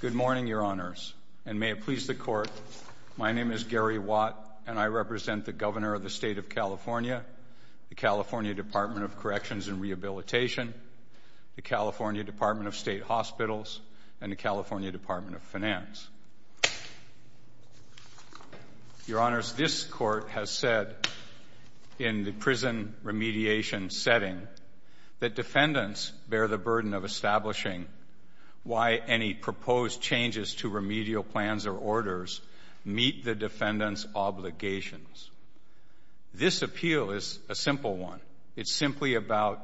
Good morning, Your Honors, and may it please the Court, my name is Gary Watt and I represent the Governor of the State of California, the California Department of Corrections and Rehabilitation, the California Department of State Hospitals, and the California Department of Finance. Your Honors, this Court has said in the prison remediation setting that defendants bear the obligation of establishing why any proposed changes to remedial plans or orders meet the defendant's obligations. This appeal is a simple one. It's simply about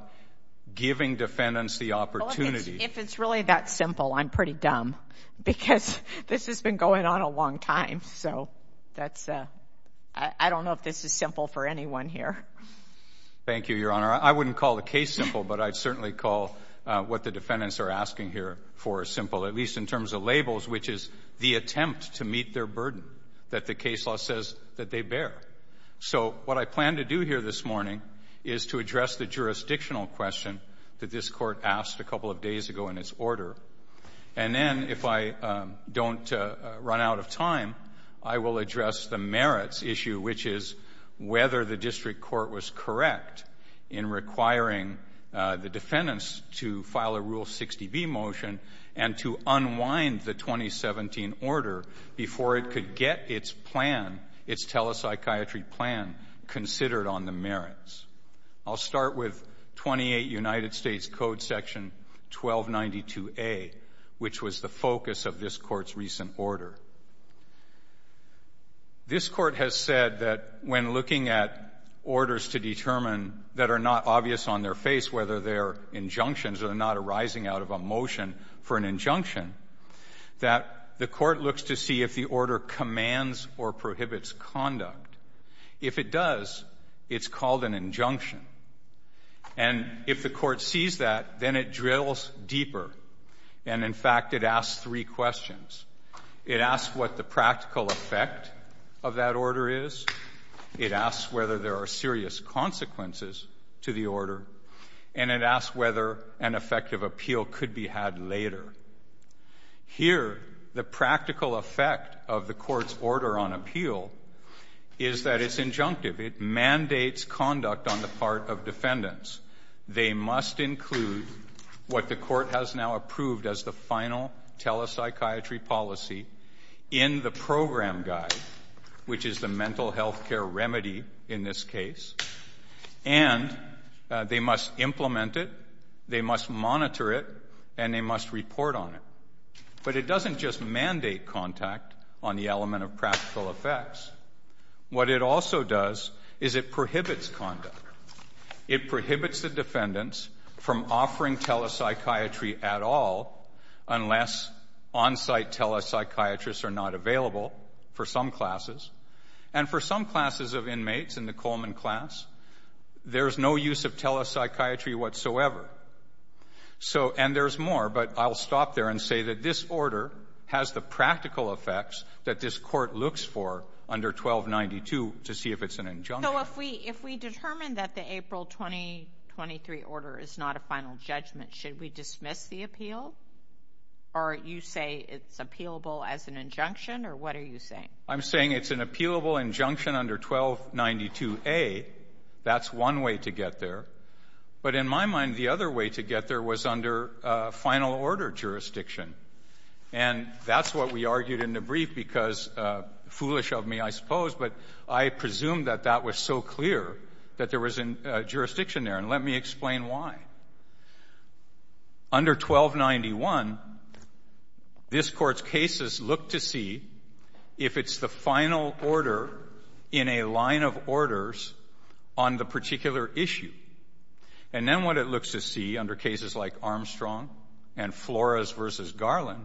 giving defendants the opportunity. Well, if it's really that simple, I'm pretty dumb because this has been going on a long time, so that's, I don't know if this is simple for anyone here. Thank you, Your Honor. I wouldn't call the case simple, but I'd certainly call what the defendants are asking here for simple, at least in terms of labels, which is the attempt to meet their burden that the case law says that they bear. So what I plan to do here this morning is to address the jurisdictional question that this Court asked a couple of days ago in its order, and then if I don't run out of time, I will address the merits issue, which is whether the district court was correct in requiring the defendants to file a Rule 60B motion and to unwind the 2017 order before it could get its plan, its telepsychiatry plan, considered on the merits. I'll start with 28 United States Code Section 1292A, which was the focus of this Court's recent order. This Court has said that when looking at orders to determine that are not obvious on their face, whether they're injunctions or not arising out of a motion for an injunction, that the Court looks to see if the order commands or prohibits conduct. If it does, it's called an injunction, and if the Court sees that, then it drills deeper, and in fact, it asks three questions. It asks what the practical effect of that order is, it asks whether there are serious consequences to the order, and it asks whether an effective appeal could be had later. Here, the practical effect of the Court's order on appeal is that it's injunctive. It mandates conduct on the part of defendants. They must include what the Court has now approved as the final telepsychiatry policy in the program guide, which is the mental health care remedy in this case, and they must implement it, they must monitor it, and they must report on it. But it doesn't just mandate contact on the element of practical effects. What it also does is it prohibits conduct. It prohibits the defendants from offering telepsychiatry at all, unless on-site telepsychiatrists are not available for some classes, and for some classes of inmates in the Coleman class, there's no use of telepsychiatry whatsoever. So, and there's more, but I'll stop there and say that this order has the practical effects that this Court looks for under 1292 to see if it's an injunction. So if we determine that the April 2023 order is not a final judgment, should we dismiss the appeal? Or you say it's appealable as an injunction, or what are you saying? I'm saying it's an appealable injunction under 1292A. That's one way to get there. But in my mind, the other way to get there was under final order jurisdiction. And that's what we argued in the brief because foolish of me, I suppose, but I presume that that was so clear that there was a jurisdiction there. And let me explain why. Under 1291, this Court's cases look to see if it's the final order in a line of orders on the particular issue. And then what it looks to see under cases like Armstrong and Flores v. Garland,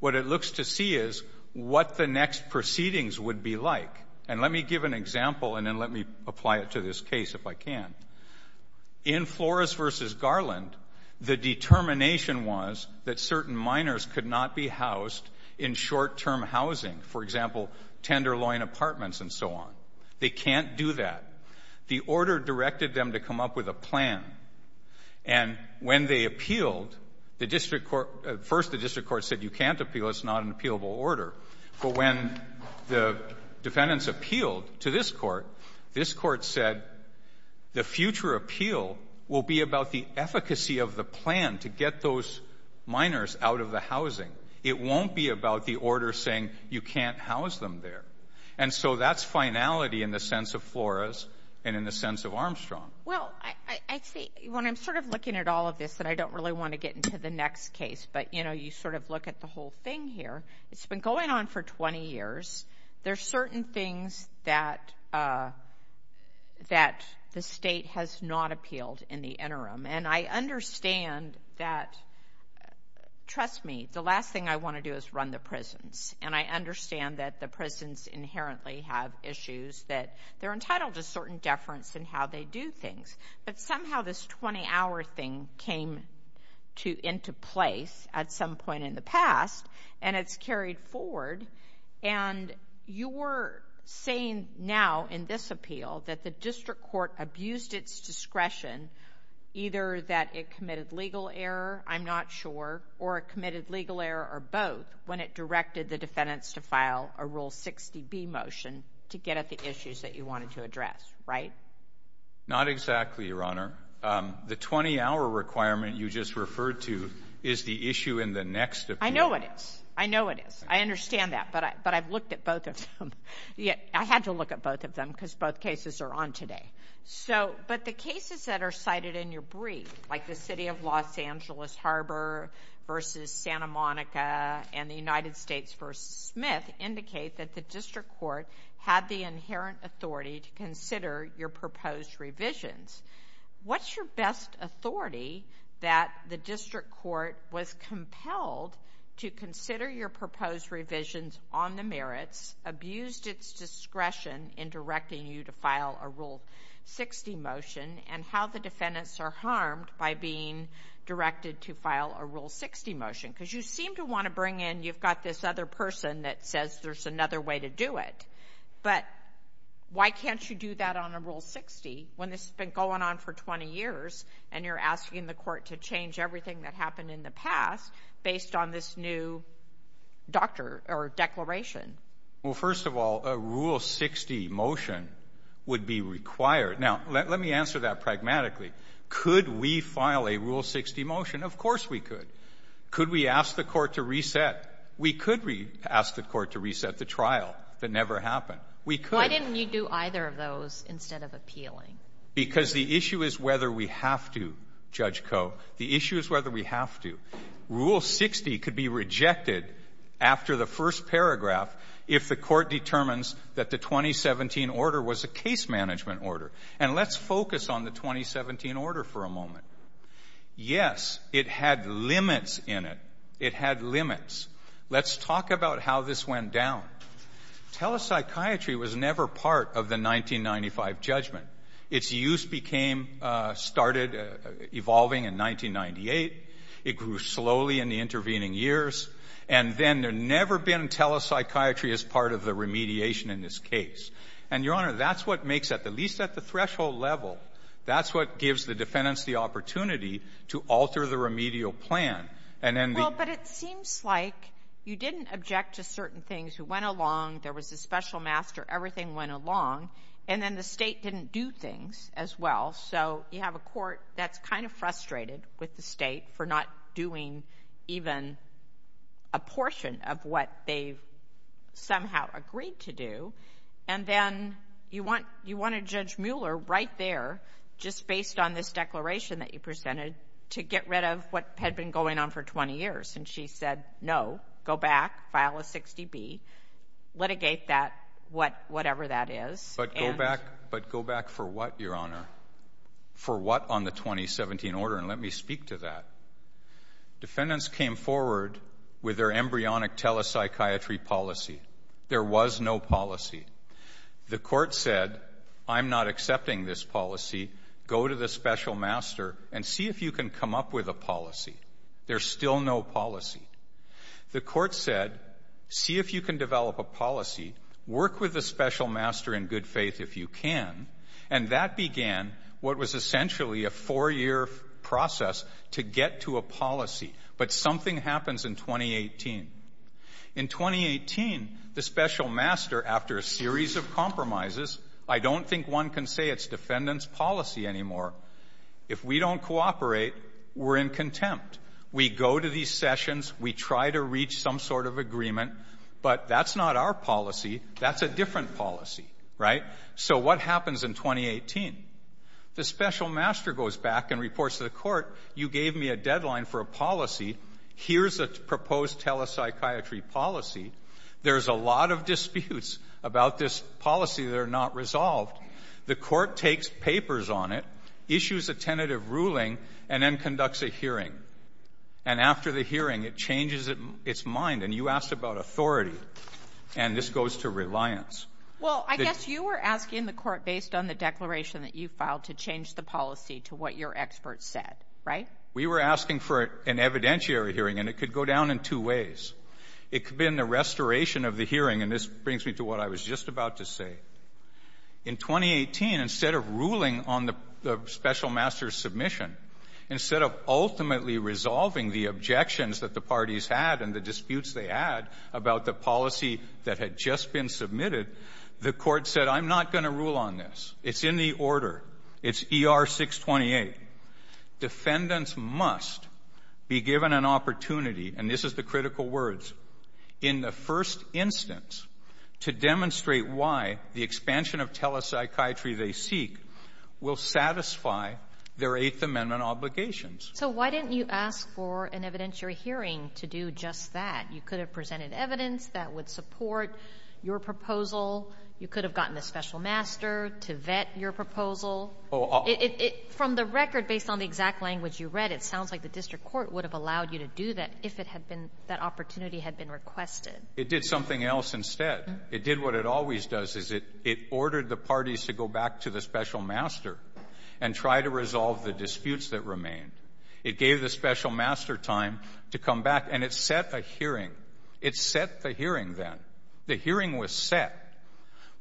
what it looks to see is what the next proceedings would be like. And let me give an example and then let me apply it to this case if I can. In Flores v. Garland, the determination was that certain minors could not be housed in short-term housing, for example, tenderloin apartments and so on. They can't do that. The order directed them to come up with a not an appealable order. But when the defendants appealed to this Court, this Court said the future appeal will be about the efficacy of the plan to get those minors out of the housing. It won't be about the order saying you can't house them there. And so that's finality in the sense of Flores and in the sense of Armstrong. Well, I see, when I'm sort of looking at all of this, and I don't really want to get into the next case, but, you know, you sort of look at the whole thing here. It's been going on for 20 years. There are certain things that the State has not appealed in the interim. And I understand that, trust me, the last thing I want to do is run the prisons. And I understand that the prisons inherently have issues that they're entitled to certain deference and how they do things. But somehow this 20-hour thing came into place at some point in the past, and it's carried forward. And you're saying now in this appeal that the District Court abused its discretion, either that it committed legal error, I'm not sure, or it committed legal error or both, when it directed the defendants to file a Rule 60B motion to get at the issues that you wanted to address, right? Not exactly, Your Honor. The 20-hour requirement you just referred to is the issue in the next appeal. I know it is. I know it is. I understand that. But I've looked at both of them. I had to look at both of them because both cases are on today. So, but the cases that are cited in your brief, like the City of Los Angeles Harbor versus Santa Monica and the United States versus Smith indicate that the District Court had the inherent authority to consider your proposed revisions. What's your best authority that the District Court was compelled to consider your proposed revisions on the merits, abused its discretion in directing you to file a Rule 60 motion, and how the defendants are harmed by being directed to file a Rule 60 motion? Because you seem to want to bring in, you've got this other person that says there's another way to do it. But why can't you do that on a Rule 60 when this has been going on for 20 years and you're asking the court to change everything that happened in the past based on this new doctor or declaration? Well, first of all, a Rule 60 motion would be required. Now, let me answer that pragmatically. Could we file a Rule 60 motion? Of course we could. Could we ask the court to reset? We could ask the court to reset the trial that never happened. We could. Why didn't you do either of those instead of appealing? Because the issue is whether we have to, Judge Koh. The issue is whether we have to. Rule 60 could be rejected after the first paragraph if the court determines that the 2017 order was a case management order. And let's focus on the 2017 order for a moment. Yes, it had limits in it. It had limits. Let's talk about how this went down. Telepsychiatry was never part of the 1995 judgment. Its use became, started evolving in 1998. It grew slowly in the intervening years. And then there never been telepsychiatry as part of the remediation in this case. And, Your Honor, that's what makes it, at least at the threshold level, that's what gives the defendants the opportunity to alter the remedial plan. And then the... Well, but it seems like you didn't object to certain things. It went along. There was a special master. Everything went along. And then the state didn't do things as well. So you have a court that's kind of frustrated with the state for not doing even a portion of what they've somehow agreed to do. And then you want a Judge Mueller right there just based on this declaration that you presented to get rid of what had been going on for 20 years. And she said, no, go back, file a 60B, litigate that, whatever that is. But go back for what, Your Honor? For what on the 2017 order? And let me speak to that. Defendants came forward with their embryonic telepsychiatry policy. There was no policy. The court said, I'm not accepting this policy. Go to the special master and see if you can come up with a policy. There's still no policy. The court said, see if you can develop a policy. Work with the special master in good faith if you can. And that began what was essentially a four-year process to get to a policy. But something happens in 2018. In 2018, the special master, after a series of compromises, I don't think one can say it's defendant's policy anymore. If we don't cooperate, we're in contempt. We go to these sessions. We try to reach some sort of agreement. But that's not our policy. That's a different policy, right? So what happens in 2018? The special master goes back and reports to the court, you gave me a deadline for a policy. Here's a proposed telepsychiatry policy. There's a lot of disputes about this policy that are not resolved. The court takes papers on it, issues a tentative ruling, and then conducts a hearing. And after the hearing, it changes its mind. And you asked about authority. And this goes to reliance. Well, I guess you were asking the court, based on the declaration that you filed, to change the policy to what your expert said, right? We were asking for an evidentiary hearing, and it could go down in two ways. It could be in the restoration of the hearing, and this brings me to what I was just about to say. In 2018, instead of ruling on the special master's submission, instead of ultimately resolving the objections that the parties had and the disputes they had about the policy that had just been submitted, the court said, I'm not going to rule on this. It's in the order. It's ER 628. Defendants must be given an opportunity, and this is the critical words, in the first instance, to demonstrate why the expansion of telepsychiatry they seek will satisfy their Eighth Amendment obligations. So why didn't you ask for an evidentiary hearing to do just that? You could have presented evidence that would support your proposal. You could have gotten the special master to vet your proposal. From the record, based on the exact language you read, it sounds like the district court would have allowed you to do that if that opportunity had been requested. It did something else instead. It did what it always does, is it ordered the parties to go back to the special master and try to resolve the disputes that remained. It gave the special master time to come back, and it set a hearing. It set the hearing then. The hearing was set.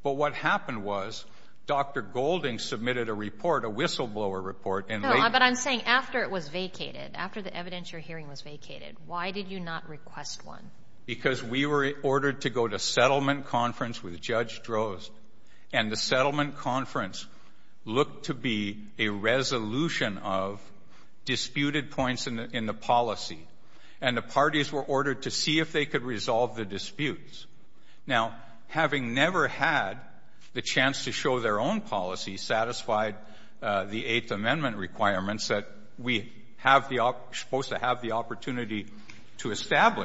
But what happened was, Dr. Golding submitted a report, a whistleblower report in late... No, but I'm saying after it was vacated, after the evidentiary hearing was vacated, why did you not request one? Because we were ordered to go to settlement conference with Judge Drozd, and the settlement conference looked to be a resolution of disputed points in the policy. And the parties were ordered to see if they could resolve the disputes. Now, having never had the chance to show their own policy satisfied the Eighth Amendment requirements that we have the... supposed to satisfy,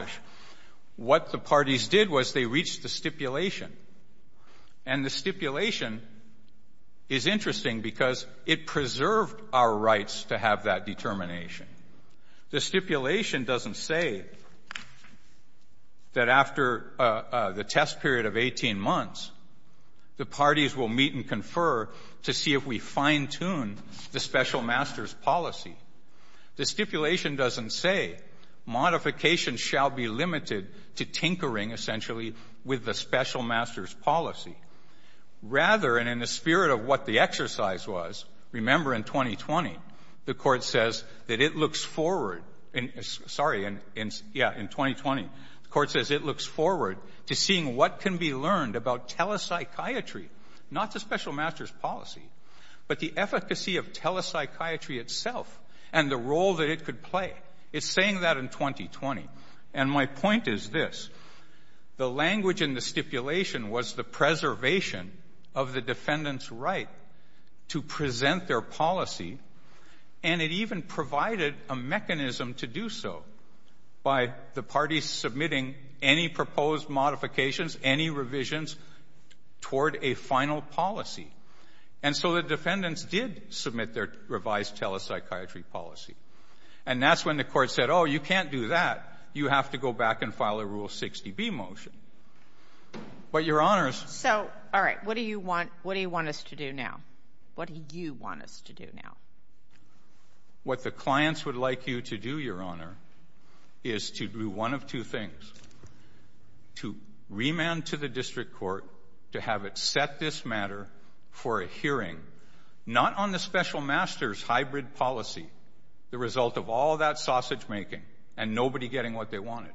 what the parties did was they reached the stipulation. And the stipulation is interesting because it preserved our rights to have that determination. The stipulation doesn't say that after the test period of 18 months, the parties will meet and confer to see if we fine-tune the special master's policy. The stipulation doesn't say modification shall be limited to tinkering, essentially, with the special master's policy. Rather, and in the spirit of what the exercise was, remember in 2020, the court says that it looks forward... Sorry, in 2020, the court says it looks forward to seeing what can be learned about telepsychiatry, not the special master's policy, but the efficacy of telepsychiatry itself and the role that it could play. It's saying that in 2020. And my point is this. The language in the stipulation was the preservation of the defendant's right to present their policy and it even provided a mechanism to do so by the parties submitting any proposed modifications, any revisions toward a final policy. And so the defendants did submit their revised telepsychiatry policy. And that's when the court said, oh, you can't do that. You have to go back and file a Rule 60B motion. But your honors... So, all right. What do you want us to do now? What do you want us to do now? What the clients would like you to do, your honor, is to do one of two things. To remand to the district court to have it set this matter for a hearing, not on the special master's hybrid policy, the result of all that sausage making and nobody getting what they wanted,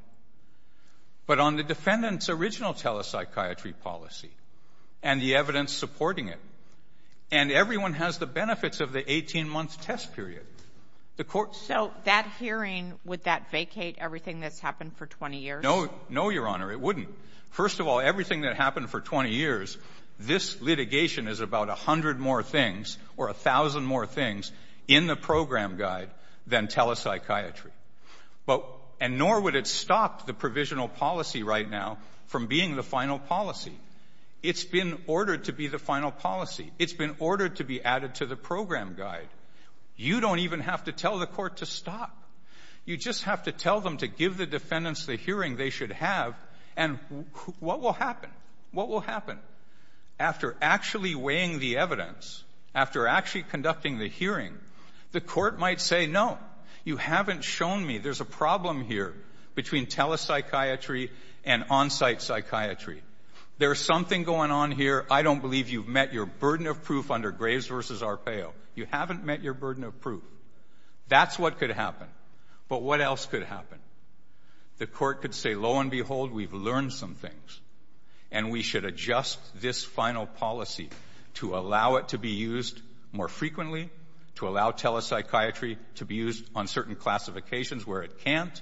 but on the defendant's original telepsychiatry policy and the evidence supporting it. And everyone has the benefits of the 18 month test period. The court... So, that hearing, would that vacate everything that's happened for 20 years? No, no, your honor. It wouldn't. First of all, everything that happened for 20 years, this litigation is about 100 more things, or 1,000 more things, in the program guide than telepsychiatry. And nor would it stop the provisional policy right now from being the final policy. It's been ordered to be the final policy. It's been ordered to be added to the program guide. You don't even have to tell the court to stop. You just have to tell them to give the defendants the hearing they should have, and what will happen? What will happen? After actually weighing the evidence, after actually conducting the hearing, the court might say, no, you haven't shown me there's a problem here between telepsychiatry and on-site psychiatry. There's something going on here. I don't believe you've met your burden of proof under Graves v. Arpaio. You haven't met your burden of proof. That's what could happen. But what else could happen? The court could say, lo and behold, we've learned some things, and we should adjust this final policy to allow it to be used more frequently, to allow telepsychiatry to be used on certain classifications where it can't.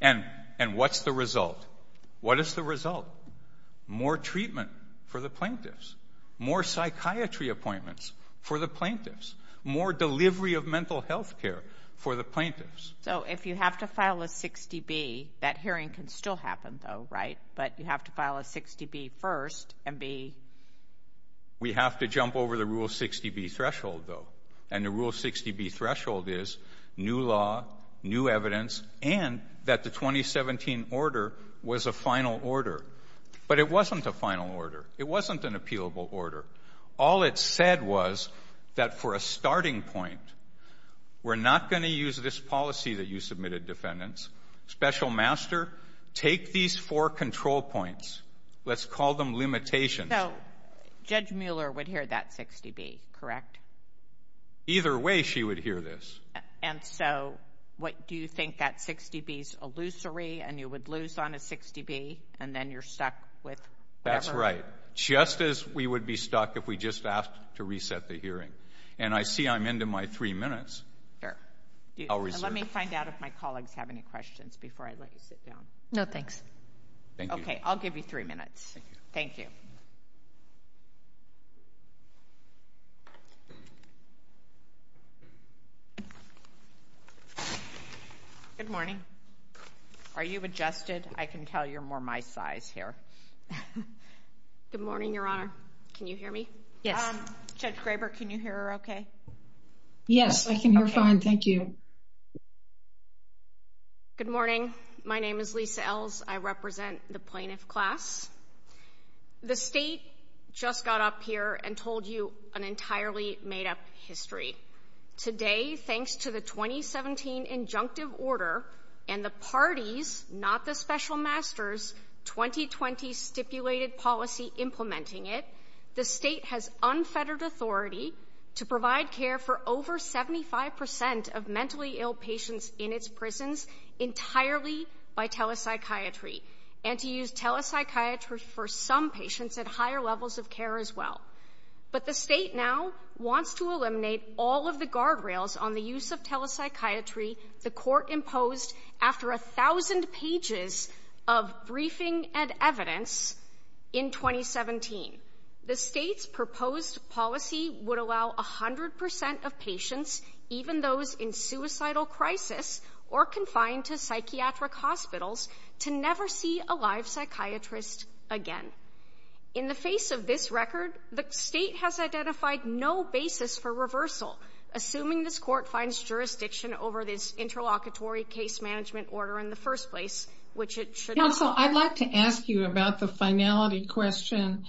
And what's the result? What is the result? More treatment for the plaintiffs. More psychiatry appointments for the plaintiffs. More delivery of mental health care for the plaintiffs. So if you have to file a 60B, that hearing can still happen, though, right? But you have to file a 60B first and be... We have to jump over the Rule 60B threshold, though. And the Rule 60B threshold is new law, new evidence, and that the 2017 order was a final order. But it wasn't a final order. It wasn't an appealable order. All it said was that for a starting point, we're not going to use this policy that you submitted, defendants. Special Master, take these four control points. Let's call them limitations. So Judge Mueller would hear that 60B, correct? Either way, she would hear this. And so what do you think that 60B's illusory, and you would lose on a 60B, and then you're stuck with whatever... You're right. Just as we would be stuck if we just asked to reset the hearing. And I see I'm into my three minutes. Sure. I'll reserve it. Let me find out if my colleagues have any questions before I let you sit down. No, thanks. Thank you. Okay. I'll give you three minutes. Thank you. Good morning. Are you adjusted? I can tell you're more my size here. Good morning, Your Honor. Can you hear me? Judge Graber, can you hear her okay? Yes, I can hear fine. Thank you. Good morning. My name is Lisa Els. I represent the plaintiff class. The state just got up here and told you an entirely made-up history. Today, thanks to the 2017 injunctive order and the parties, not the special masters, 2020 stipulated policy implementing it, the state has unfettered authority to provide care for over 75% of mentally ill patients in its prisons entirely by telepsychiatry and to use telepsychiatry for some patients at higher levels of care as well. But the state now wants to eliminate all of the guardrails on the use of telepsychiatry the court imposed after 1,000 pages of briefing and evidence in 2017. The state's proposed policy would allow 100% of patients, even those in suicidal crisis or confined to psychiatric hospitals, to never see a live psychiatrist again. In the face of this record, the state has identified no basis for reversal, assuming this court finds jurisdiction over this interlocutory case management order in the first place, which it should not. Counsel, I'd like to ask you about the finality question.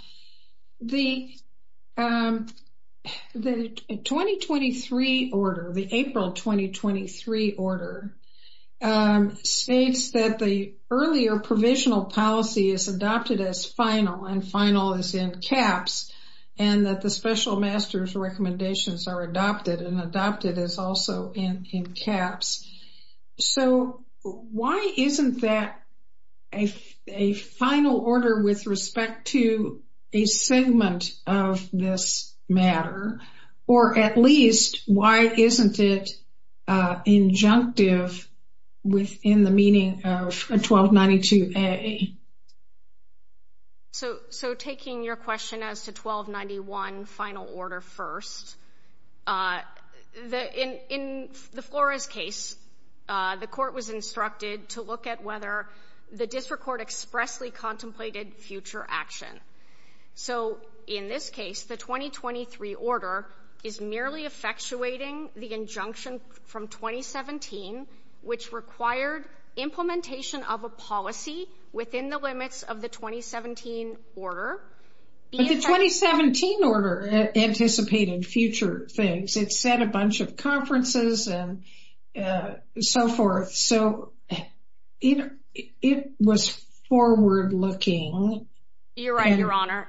The 2023 order, the April 2023 order, states that the earlier provisional policy is adopted as final, and final is in caps, and that the special master's recommendations are adopted, and adopted is also in caps. So why isn't that a final order with respect to a segment of this matter? Or at least, why isn't it injunctive within the meaning of 1292A? So taking your question as to 1291 final order first, in the Flores case, the court was instructed to look at whether the district court expressly contemplated future action. So in this case, the 2023 order is merely effectuating the injunction from 2017, which required implementation of a policy within the limits of the 2017 order. But the 2017 order anticipated future things. It said a bunch of conferences and so forth. So it was forward-looking. You're right, Your Honor.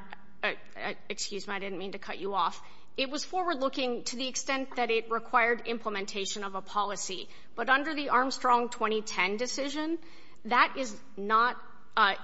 Excuse me, I didn't mean to cut you off. It was forward-looking to the extent that it required implementation of a policy. But under the Armstrong 2010 decision, that is not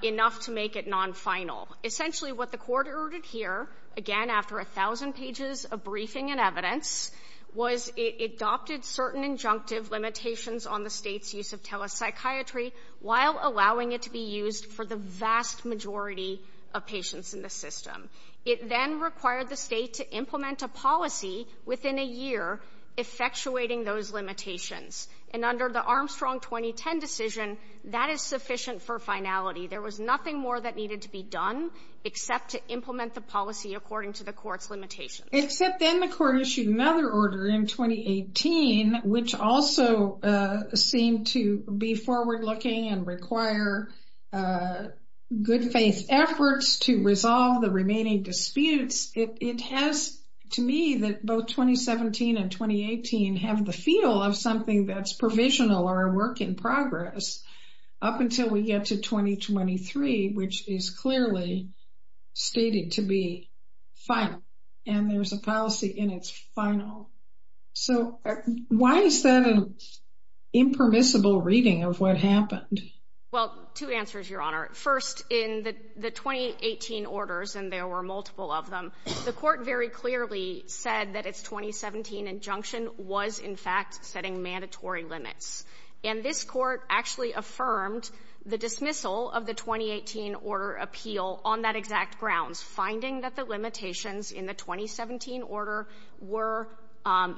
enough to make it non-final. Essentially, what the court ordered here, again, after a thousand pages of briefing and evidence, was it adopted certain injunctive limitations on the State's use of telepsychiatry while allowing it to be used for the vast majority of patients in the system. It then required the State to implement a policy within a year, effectuating those limitations. And under the Armstrong 2010 decision, that is sufficient for finality. There was nothing more that needed to be done except to implement the policy according to the court's limitations. Except then the court issued another order in 2018, which also seemed to be forward-looking and require good-faith efforts to resolve the remaining disputes. It has, to me, that both 2017 and 2018 have the feel of something that's provisional or a work in progress up until we get to 2023, which is clearly stated to be final. And there's a policy in its final. So why is that an impermissible reading of what happened? Well, two answers, Your Honor. First, in the 2018 orders, and there were multiple of them, the court very clearly said that its 2017 injunction was, in fact, setting mandatory limits. And this court actually affirmed the dismissal of the 2018 order appeal on that exact grounds, finding that the limitations in the 2017 order were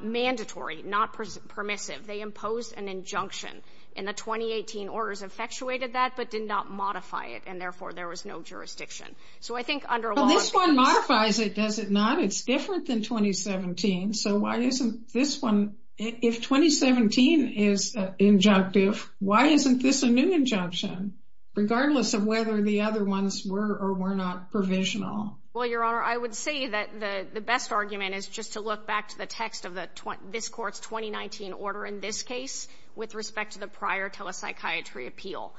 mandatory, not permissive. They imposed an injunction, and the 2018 orders effectuated that but did not modify it, and therefore there was no jurisdiction. So I think under law... Well, this one modifies it, does it not? It's different than 2017. So why isn't this one... If 2017 is injunctive, why isn't this a new injunction, regardless of whether the other ones were or were not provisional? Well, Your Honor, I would say that the best argument is just to look back to the text of this court's 2019 order in this case with respect to the prior telepsychiatry appeal.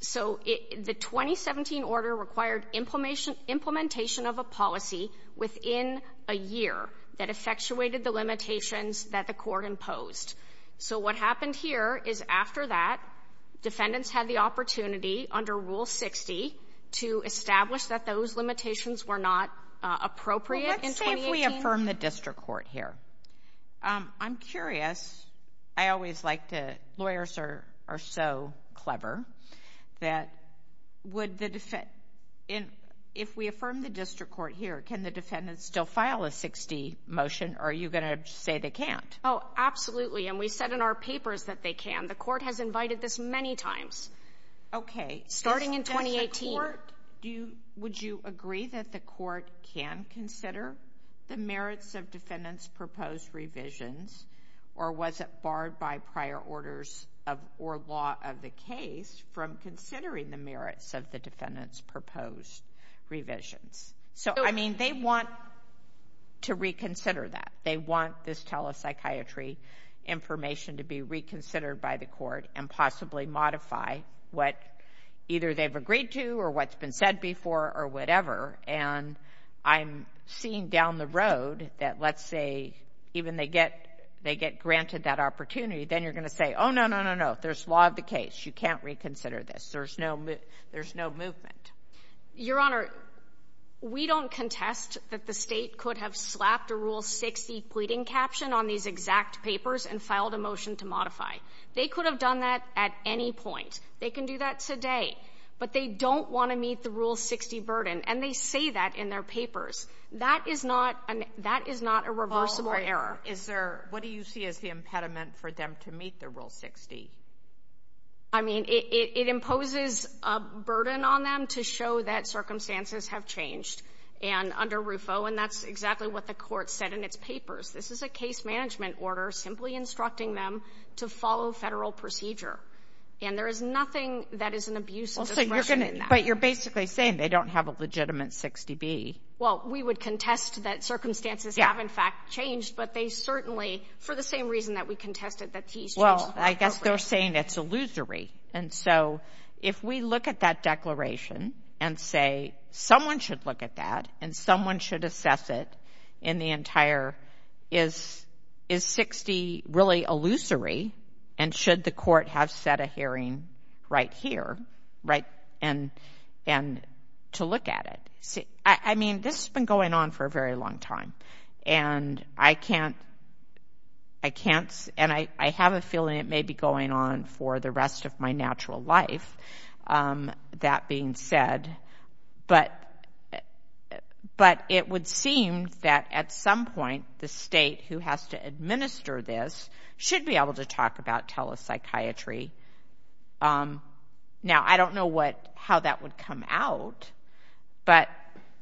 So the 2017 order required implementation of a policy within a year that effectuated the limitations that the court imposed. So what happened here is after that, defendants had the opportunity under Rule 60 to establish that those limitations were not appropriate in 2018. Well, let's say if we affirm the district court here. I'm curious. I always like to... Lawyers are so clever that would the defen... If we affirm the district court here, can the defendants still file a 60 motion or are you going to say they can't? Oh, absolutely. And we said in our papers that they can. The court has invited this many times. Starting in 2018. Would you agree that the court can consider the merits of defendants' proposed revisions or was it barred by prior orders or law of the case from considering the merits of the defendants' proposed revisions? So, I mean, they want to reconsider that. They want this telepsychiatry information to be reconsidered by the court and possibly modify what either they've agreed to or what's been said before or whatever. And I'm seeing down the road that, let's say, even they get granted that opportunity, then you're going to say, oh, no, no, no, no. There's law of the case. You can't reconsider this. There's no movement. Your Honor, we don't contest that the state could have slapped a Rule 60 pleading caption on these exact papers and filed a motion to modify. They could have done that at any point. They can do that today. But they don't want to meet the Rule 60 burden. And they say that in their papers. That is not a reversible error. What do you see as the impediment for them to meet the Rule 60? I mean, it imposes a burden on them to show that circumstances have changed. And under RUFO, and that's exactly what the court said in its papers, this is a case management order simply instructing them to follow federal procedure. And there is nothing that is an abuse of discretion in that. But you're basically saying they don't have a legitimate 60B. Well, we would contest that circumstances have, in fact, changed, but they certainly, for the same reason that we contested that these changed. Well, I guess they're saying it's illusory. And so if we look at that declaration and say someone should look at that and someone should assess it in the entire is 60 really illusory and should the court have set a hearing right here to look at it? I mean, this has been going on for a very long time. And I can't, I can't, and I have a feeling it may be going on for the rest of my natural life, that being said. But it would seem that at some point the state who has to administer this should be able to talk about telepsychiatry. Now, I don't know how that would come out, but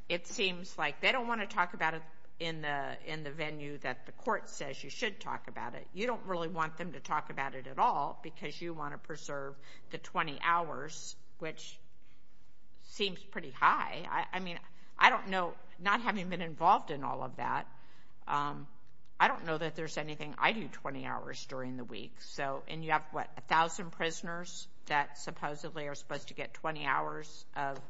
it seems like they don't want to talk about it in the venue that the court says you should talk about it. You don't really want them to talk about it at all because you want to preserve the 20 hours, which seems pretty high. I mean, I don't know, not having been involved in all of that, I don't know that there's anything I do 20 hours during the week. And you have, what, 1,000 prisoners that supposedly are supposed to get 20 hours of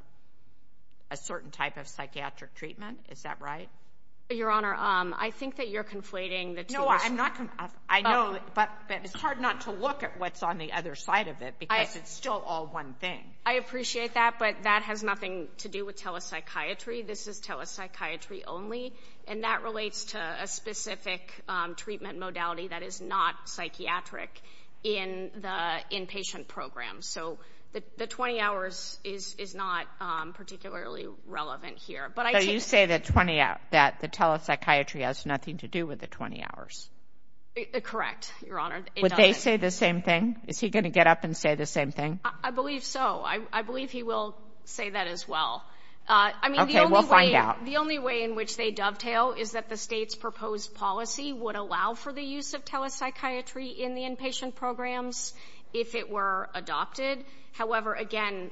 a certain type of psychiatric treatment. Is that right? Your Honor, I think that you're conflating the two. No, I'm not. I know, but it's hard not to look at what's on the other side of it because it's still all one thing. I appreciate that, but that has nothing to do with telepsychiatry. This is telepsychiatry only, and that relates to a specific treatment modality that is not psychiatric in the inpatient program. So the 20 hours is not particularly relevant here. So you say that telepsychiatry has nothing to do with the 20 hours. Correct, Your Honor. Would they say the same thing? Is he going to get up and say the same thing? I believe so. I believe he will say that as well. Okay, we'll find out. The only way in which they dovetail is that the state's proposed policy would allow for the use of telepsychiatry in the inpatient programs if it were adopted. However, again,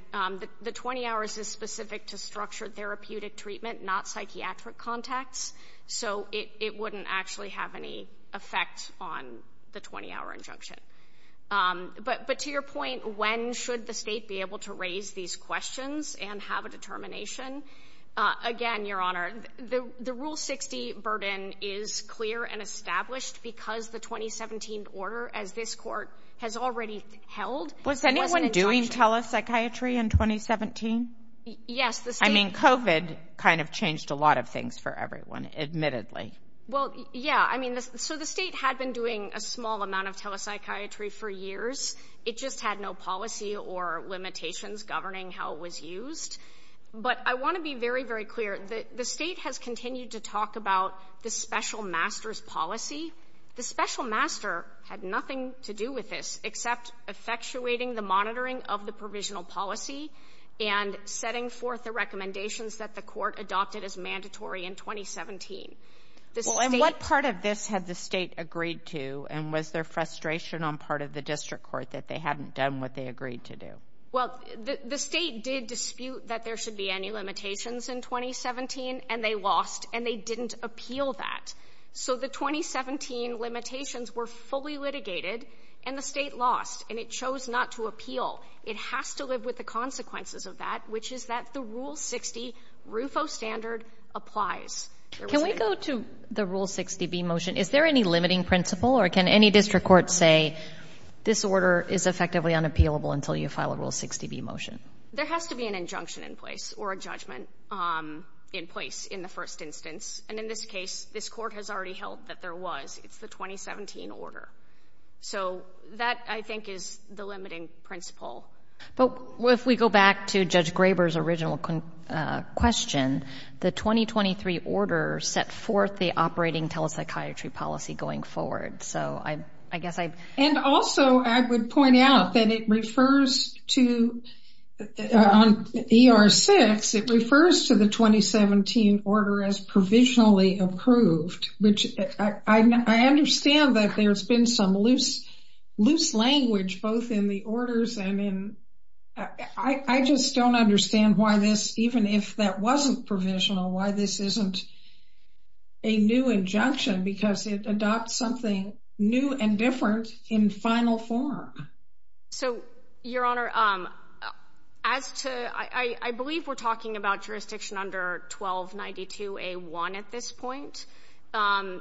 the 20 hours is specific to structured therapeutic treatment, not psychiatric contacts, so it wouldn't actually have any effect on the 20-hour injunction. But to your point, when should the state be able to raise these questions and have a determination, again, Your Honor, the Rule 60 burden is clear and established because the 2017 order, as this Court has already held, was injunctioned. Was anyone doing telepsychiatry in 2017? Yes. I mean, COVID kind of changed a lot of things for everyone, admittedly. Well, yeah. I mean, so the state had been doing a small amount of telepsychiatry for years. It just had no policy or limitations governing how it was used. But I want to be very, very clear. The state has continued to talk about the special master's policy. The special master had nothing to do with this except effectuating the monitoring of the provisional policy and setting forth the recommendations that the court adopted as mandatory in 2017. Well, and what part of this had the state agreed to, and was there frustration on part of the district court that they hadn't done what they agreed to do? Well, the state did dispute that there should be any limitations in 2017, and they lost, and they didn't appeal that. So the 2017 limitations were fully litigated, and the state lost, and it chose not to appeal. It has to live with the consequences of that, which is that the Rule 60 RUFO standard applies. Can we go to the Rule 60b motion? Is there any limiting principle, or can any district court say, this order is effectively unappealable until you file a Rule 60b motion? There has to be an injunction in place or a judgment in place in the first instance. And in this case, this court has already held that there was. It's the 2017 order. So that, I think, is the limiting principle. But if we go back to Judge Graber's original question, the 2023 order set forth the operating telepsychiatry policy going forward. So I guess I've... And also, I would point out that it refers to, on ER-6, it refers to the 2017 order as provisionally approved, which I understand that there's been some loose language, both in the orders and in... I just don't understand why this, even if that wasn't provisional, why this isn't a new injunction, because it adopts something new and different in final form. So, Your Honor, as to... I believe we're talking about jurisdiction under 1292A1 at this point. And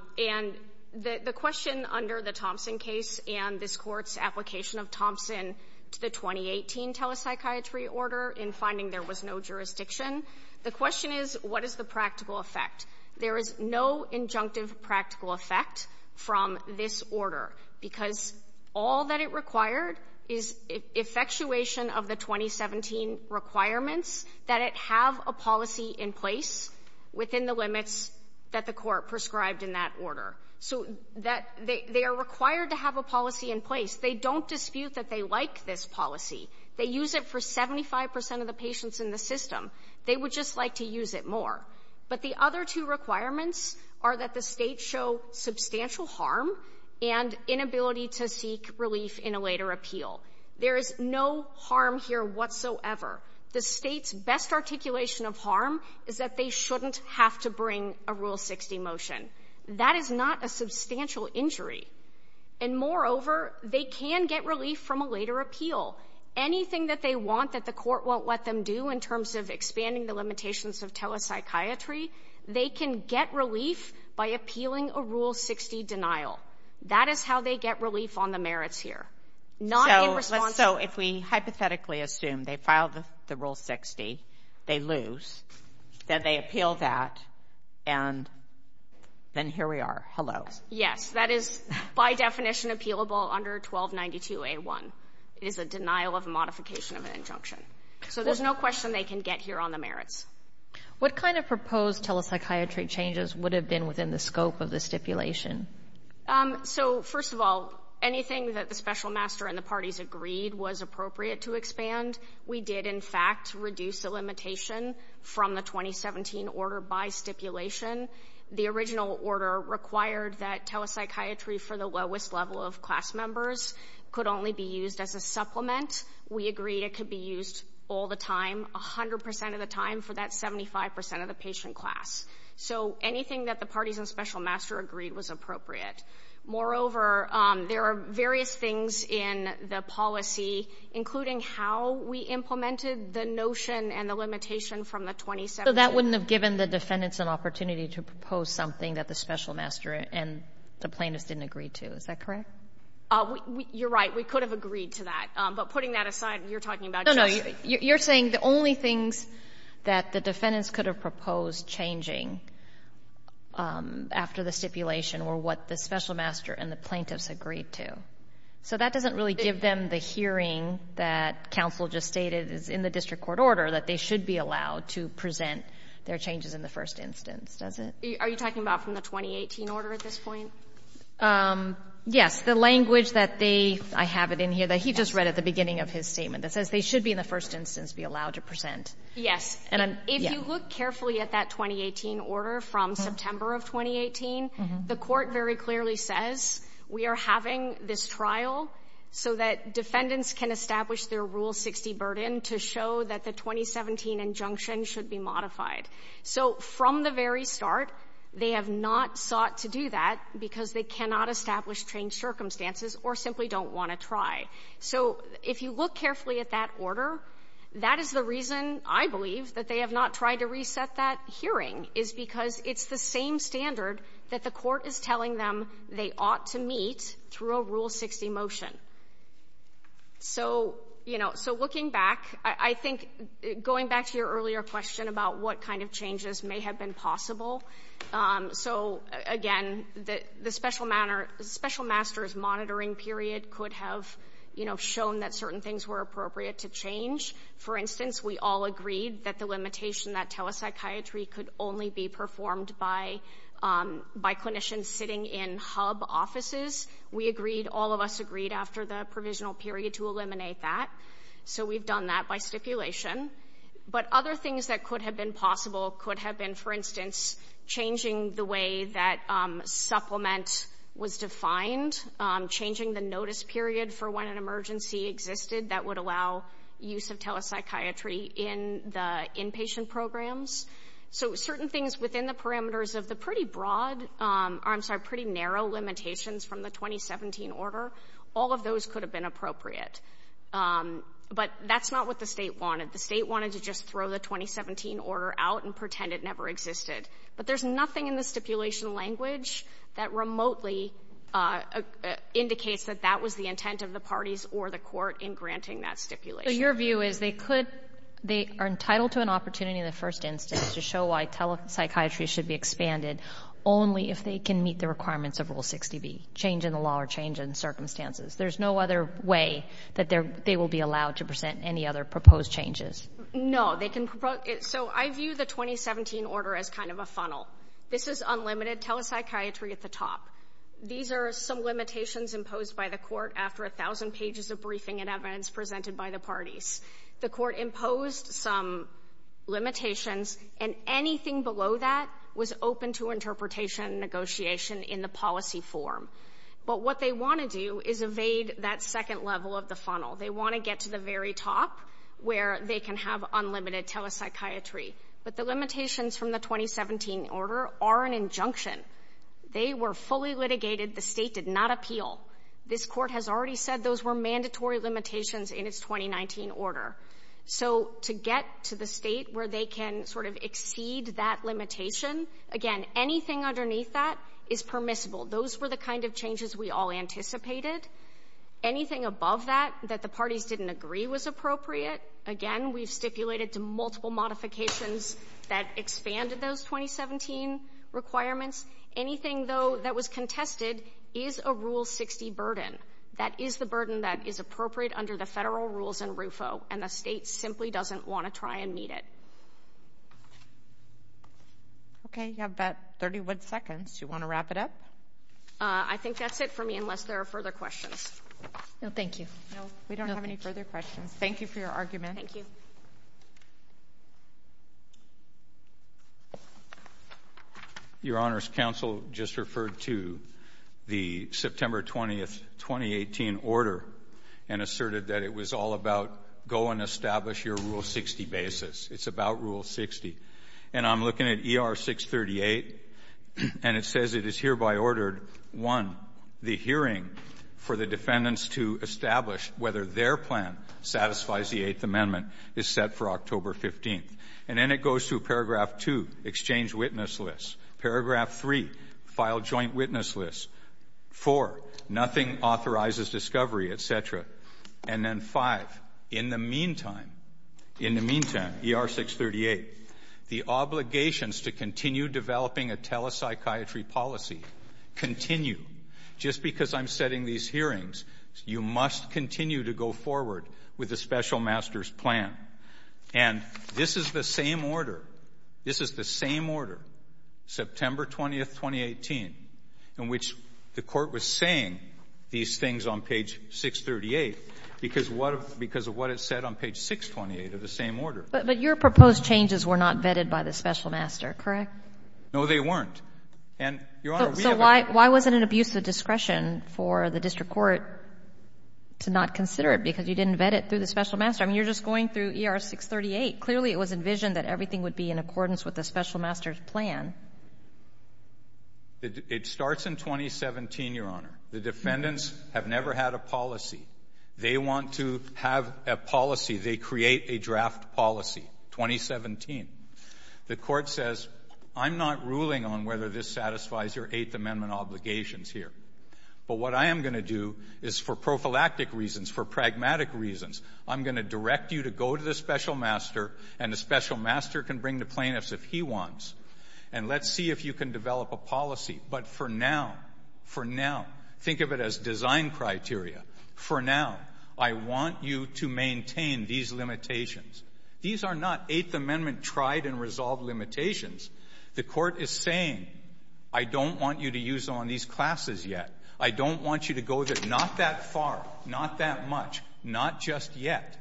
the question under the Thompson case and this court's application of Thompson to the 2018 telepsychiatry order in finding there was no jurisdiction, the question is, what is the practical effect? There is no injunctive practical effect from this order because all that it required is effectuation of the 2017 requirements that it have a policy in place within the limits that the court prescribed in that order. So they are required to have a policy in place. They don't dispute that they like this policy. They use it for 75% of the patients in the system. They would just like to use it more. But the other two requirements are that the state show substantial harm and inability to seek relief in a later appeal. There is no harm here whatsoever. The state's best articulation of harm is that they shouldn't have to bring a Rule 60 motion. That is not a substantial injury. And moreover, they can get relief from a later appeal. Anything that they want that the court won't let them do in terms of expanding the limitations of telepsychiatry, they can get relief by appealing a Rule 60 denial. That is how they get relief on the merits here. So if we hypothetically assume they filed the Rule 60, they lose, then they appeal that, and then here we are. Hello. Yes, that is by definition appealable under 1292A1. It is a denial of modification of an injunction. So there's no question they can get here on the merits. What kind of proposed telepsychiatry changes would have been within the scope of the stipulation? So, first of all, anything that the special master and the parties agreed was appropriate to expand. We did, in fact, reduce the limitation from the 2017 order by stipulation. The original order required that telepsychiatry for the lowest level of class members could only be used as a supplement. We agreed it could be used all the time, 100% of the time, even for that 75% of the patient class. So anything that the parties and special master agreed was appropriate. Moreover, there are various things in the policy, including how we implemented the notion and the limitation from the 2017. So that wouldn't have given the defendants an opportunity to propose something that the special master and the plaintiffs didn't agree to. Is that correct? You're right. We could have agreed to that. But putting that aside, you're talking about just the… You're saying the only things that the defendants could have proposed changing after the stipulation were what the special master and the plaintiffs agreed to. So that doesn't really give them the hearing that counsel just stated is in the district court order, that they should be allowed to present their changes in the first instance, does it? Are you talking about from the 2018 order at this point? Yes. The language that they, I have it in here, that he just read at the beginning of his statement, that says they should be in the first instance be allowed to present. Yes. If you look carefully at that 2018 order from September of 2018, the court very clearly says we are having this trial so that defendants can establish their Rule 60 burden to show that the 2017 injunction should be modified. So from the very start, they have not sought to do that because they cannot establish changed circumstances or simply don't want to try. So if you look carefully at that order, that is the reason, I believe, that they have not tried to reset that hearing is because it's the same standard that the court is telling them they ought to meet through a Rule 60 motion. So, you know, so looking back, I think going back to your earlier question about what kind of changes may have been possible. So, again, the special master's monitoring period could have shown that certain things were appropriate to change. For instance, we all agreed that the limitation, that telepsychiatry, could only be performed by clinicians sitting in hub offices. We agreed, all of us agreed, after the provisional period to eliminate that. So we've done that by stipulation. But other things that could have been possible could have been, for instance, changing the way that supplement was defined, changing the notice period for when an emergency existed that would allow use of telepsychiatry in the inpatient programs. So certain things within the parameters of the pretty broad, I'm sorry, pretty narrow limitations from the 2017 order, all of those could have been appropriate. But that's not what the state wanted. The state wanted to just throw the 2017 order out and pretend it never existed. But there's nothing in the stipulation language that remotely indicates that that was the intent of the parties or the court in granting that stipulation. So your view is they are entitled to an opportunity in the first instance to show why telepsychiatry should be expanded only if they can meet the requirements of Rule 60B, change in the law or change in circumstances. There's no other way that they will be allowed to present any other proposed changes. No. So I view the 2017 order as kind of a funnel. This is unlimited telepsychiatry at the top. These are some limitations imposed by the court after 1,000 pages of briefing and evidence presented by the parties. The court imposed some limitations, and anything below that was open to interpretation and negotiation in the policy form. But what they want to do is evade that second level of the funnel. They want to get to the very top where they can have unlimited telepsychiatry. But the limitations from the 2017 order are an injunction. They were fully litigated. The state did not appeal. This court has already said those were mandatory limitations in its 2019 order. So to get to the state where they can sort of exceed that limitation, again, anything underneath that is permissible. Those were the kind of changes we all anticipated. Anything above that that the parties didn't agree was appropriate. Again, we've stipulated to multiple modifications that expanded those 2017 requirements. Anything, though, that was contested is a Rule 60 burden. That is the burden that is appropriate under the federal rules in RUFO, and the state simply doesn't want to try and meet it. Okay, you have about 31 seconds. Do you want to wrap it up? I think that's it for me unless there are further questions. No, thank you. No, we don't have any further questions. Thank you for your argument. Your Honor, counsel just referred to the September 20, 2018 order and asserted that it was all about go and establish your Rule 60 basis. It's about Rule 60. And I'm looking at ER 638, and it says it is hereby ordered, one, the hearing for the defendants to establish whether their plan satisfies the Eighth Amendment is set for October 15th. And then it goes through Paragraph 2, exchange witness list. Paragraph 3, file joint witness list. Four, nothing authorizes discovery, et cetera. And then five, in the meantime, ER 638, the obligations to continue developing a telepsychiatry policy continue. Just because I'm setting these hearings, you must continue to go forward with the special master's plan. And this is the same order. This is the same order, September 20, 2018, in which the Court was saying these things on page 638 because of what it said on page 628 of the same order. But your proposed changes were not vetted by the special master, correct? No, they weren't. So why was it an abuse of discretion for the district court to not consider it because you didn't vet it through the special master? I mean, you're just going through ER 638. Clearly, it was envisioned that everything would be in accordance with the special master's plan. It starts in 2017, Your Honor. The defendants have never had a policy. They want to have a policy. They create a draft policy, 2017. The Court says, I'm not ruling on whether this satisfies your Eighth Amendment obligations here. But what I am going to do is for prophylactic reasons, for pragmatic reasons, I'm going to direct you to go to the special master, and the special master can bring the plaintiffs if he wants. And let's see if you can develop a policy. But for now, for now, think of it as design criteria. For now, I want you to maintain these limitations. These are not Eighth Amendment tried and resolved limitations. The Court is saying, I don't want you to use them on these classes yet. I don't want you to go not that far, not that much, not just yet.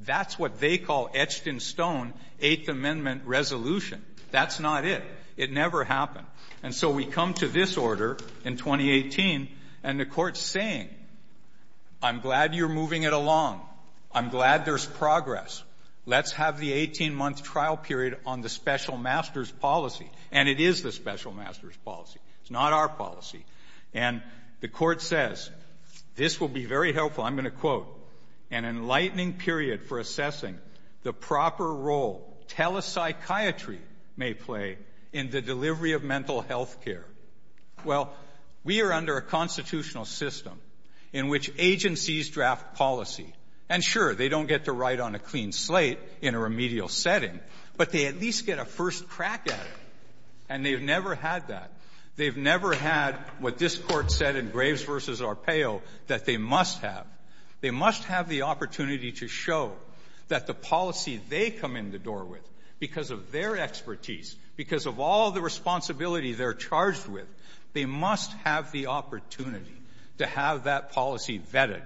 That's what they call etched in stone Eighth Amendment resolution. That's not it. It never happened. And so we come to this order in 2018, and the Court's saying, I'm glad you're moving it along. I'm glad there's progress. Let's have the 18-month trial period on the special master's policy. And it is the special master's policy. It's not our policy. And the Court says, this will be very helpful. I'm going to quote, an enlightening period for assessing the proper role telepsychiatry may play in the delivery of mental health care. Well, we are under a constitutional system in which agencies draft policy. And sure, they don't get to write on a clean slate in a remedial setting, but they at least get a first crack at it. And they've never had that. They've never had what this Court said in Graves v. Arpaio that they must have. They must have the opportunity to show that the policy they come in the door with because of their expertise, because of all the responsibility they're charged with, they must have the opportunity to have that policy vetted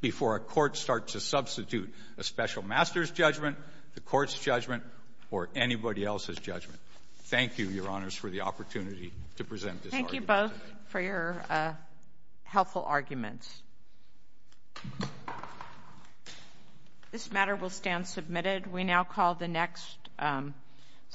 before a court starts to substitute a special master's judgment, the Court's judgment, or anybody else's judgment. Thank you, Your Honors, for the opportunity to present this argument. Thank you both for your helpful arguments. This matter will stand submitted. We now call the next.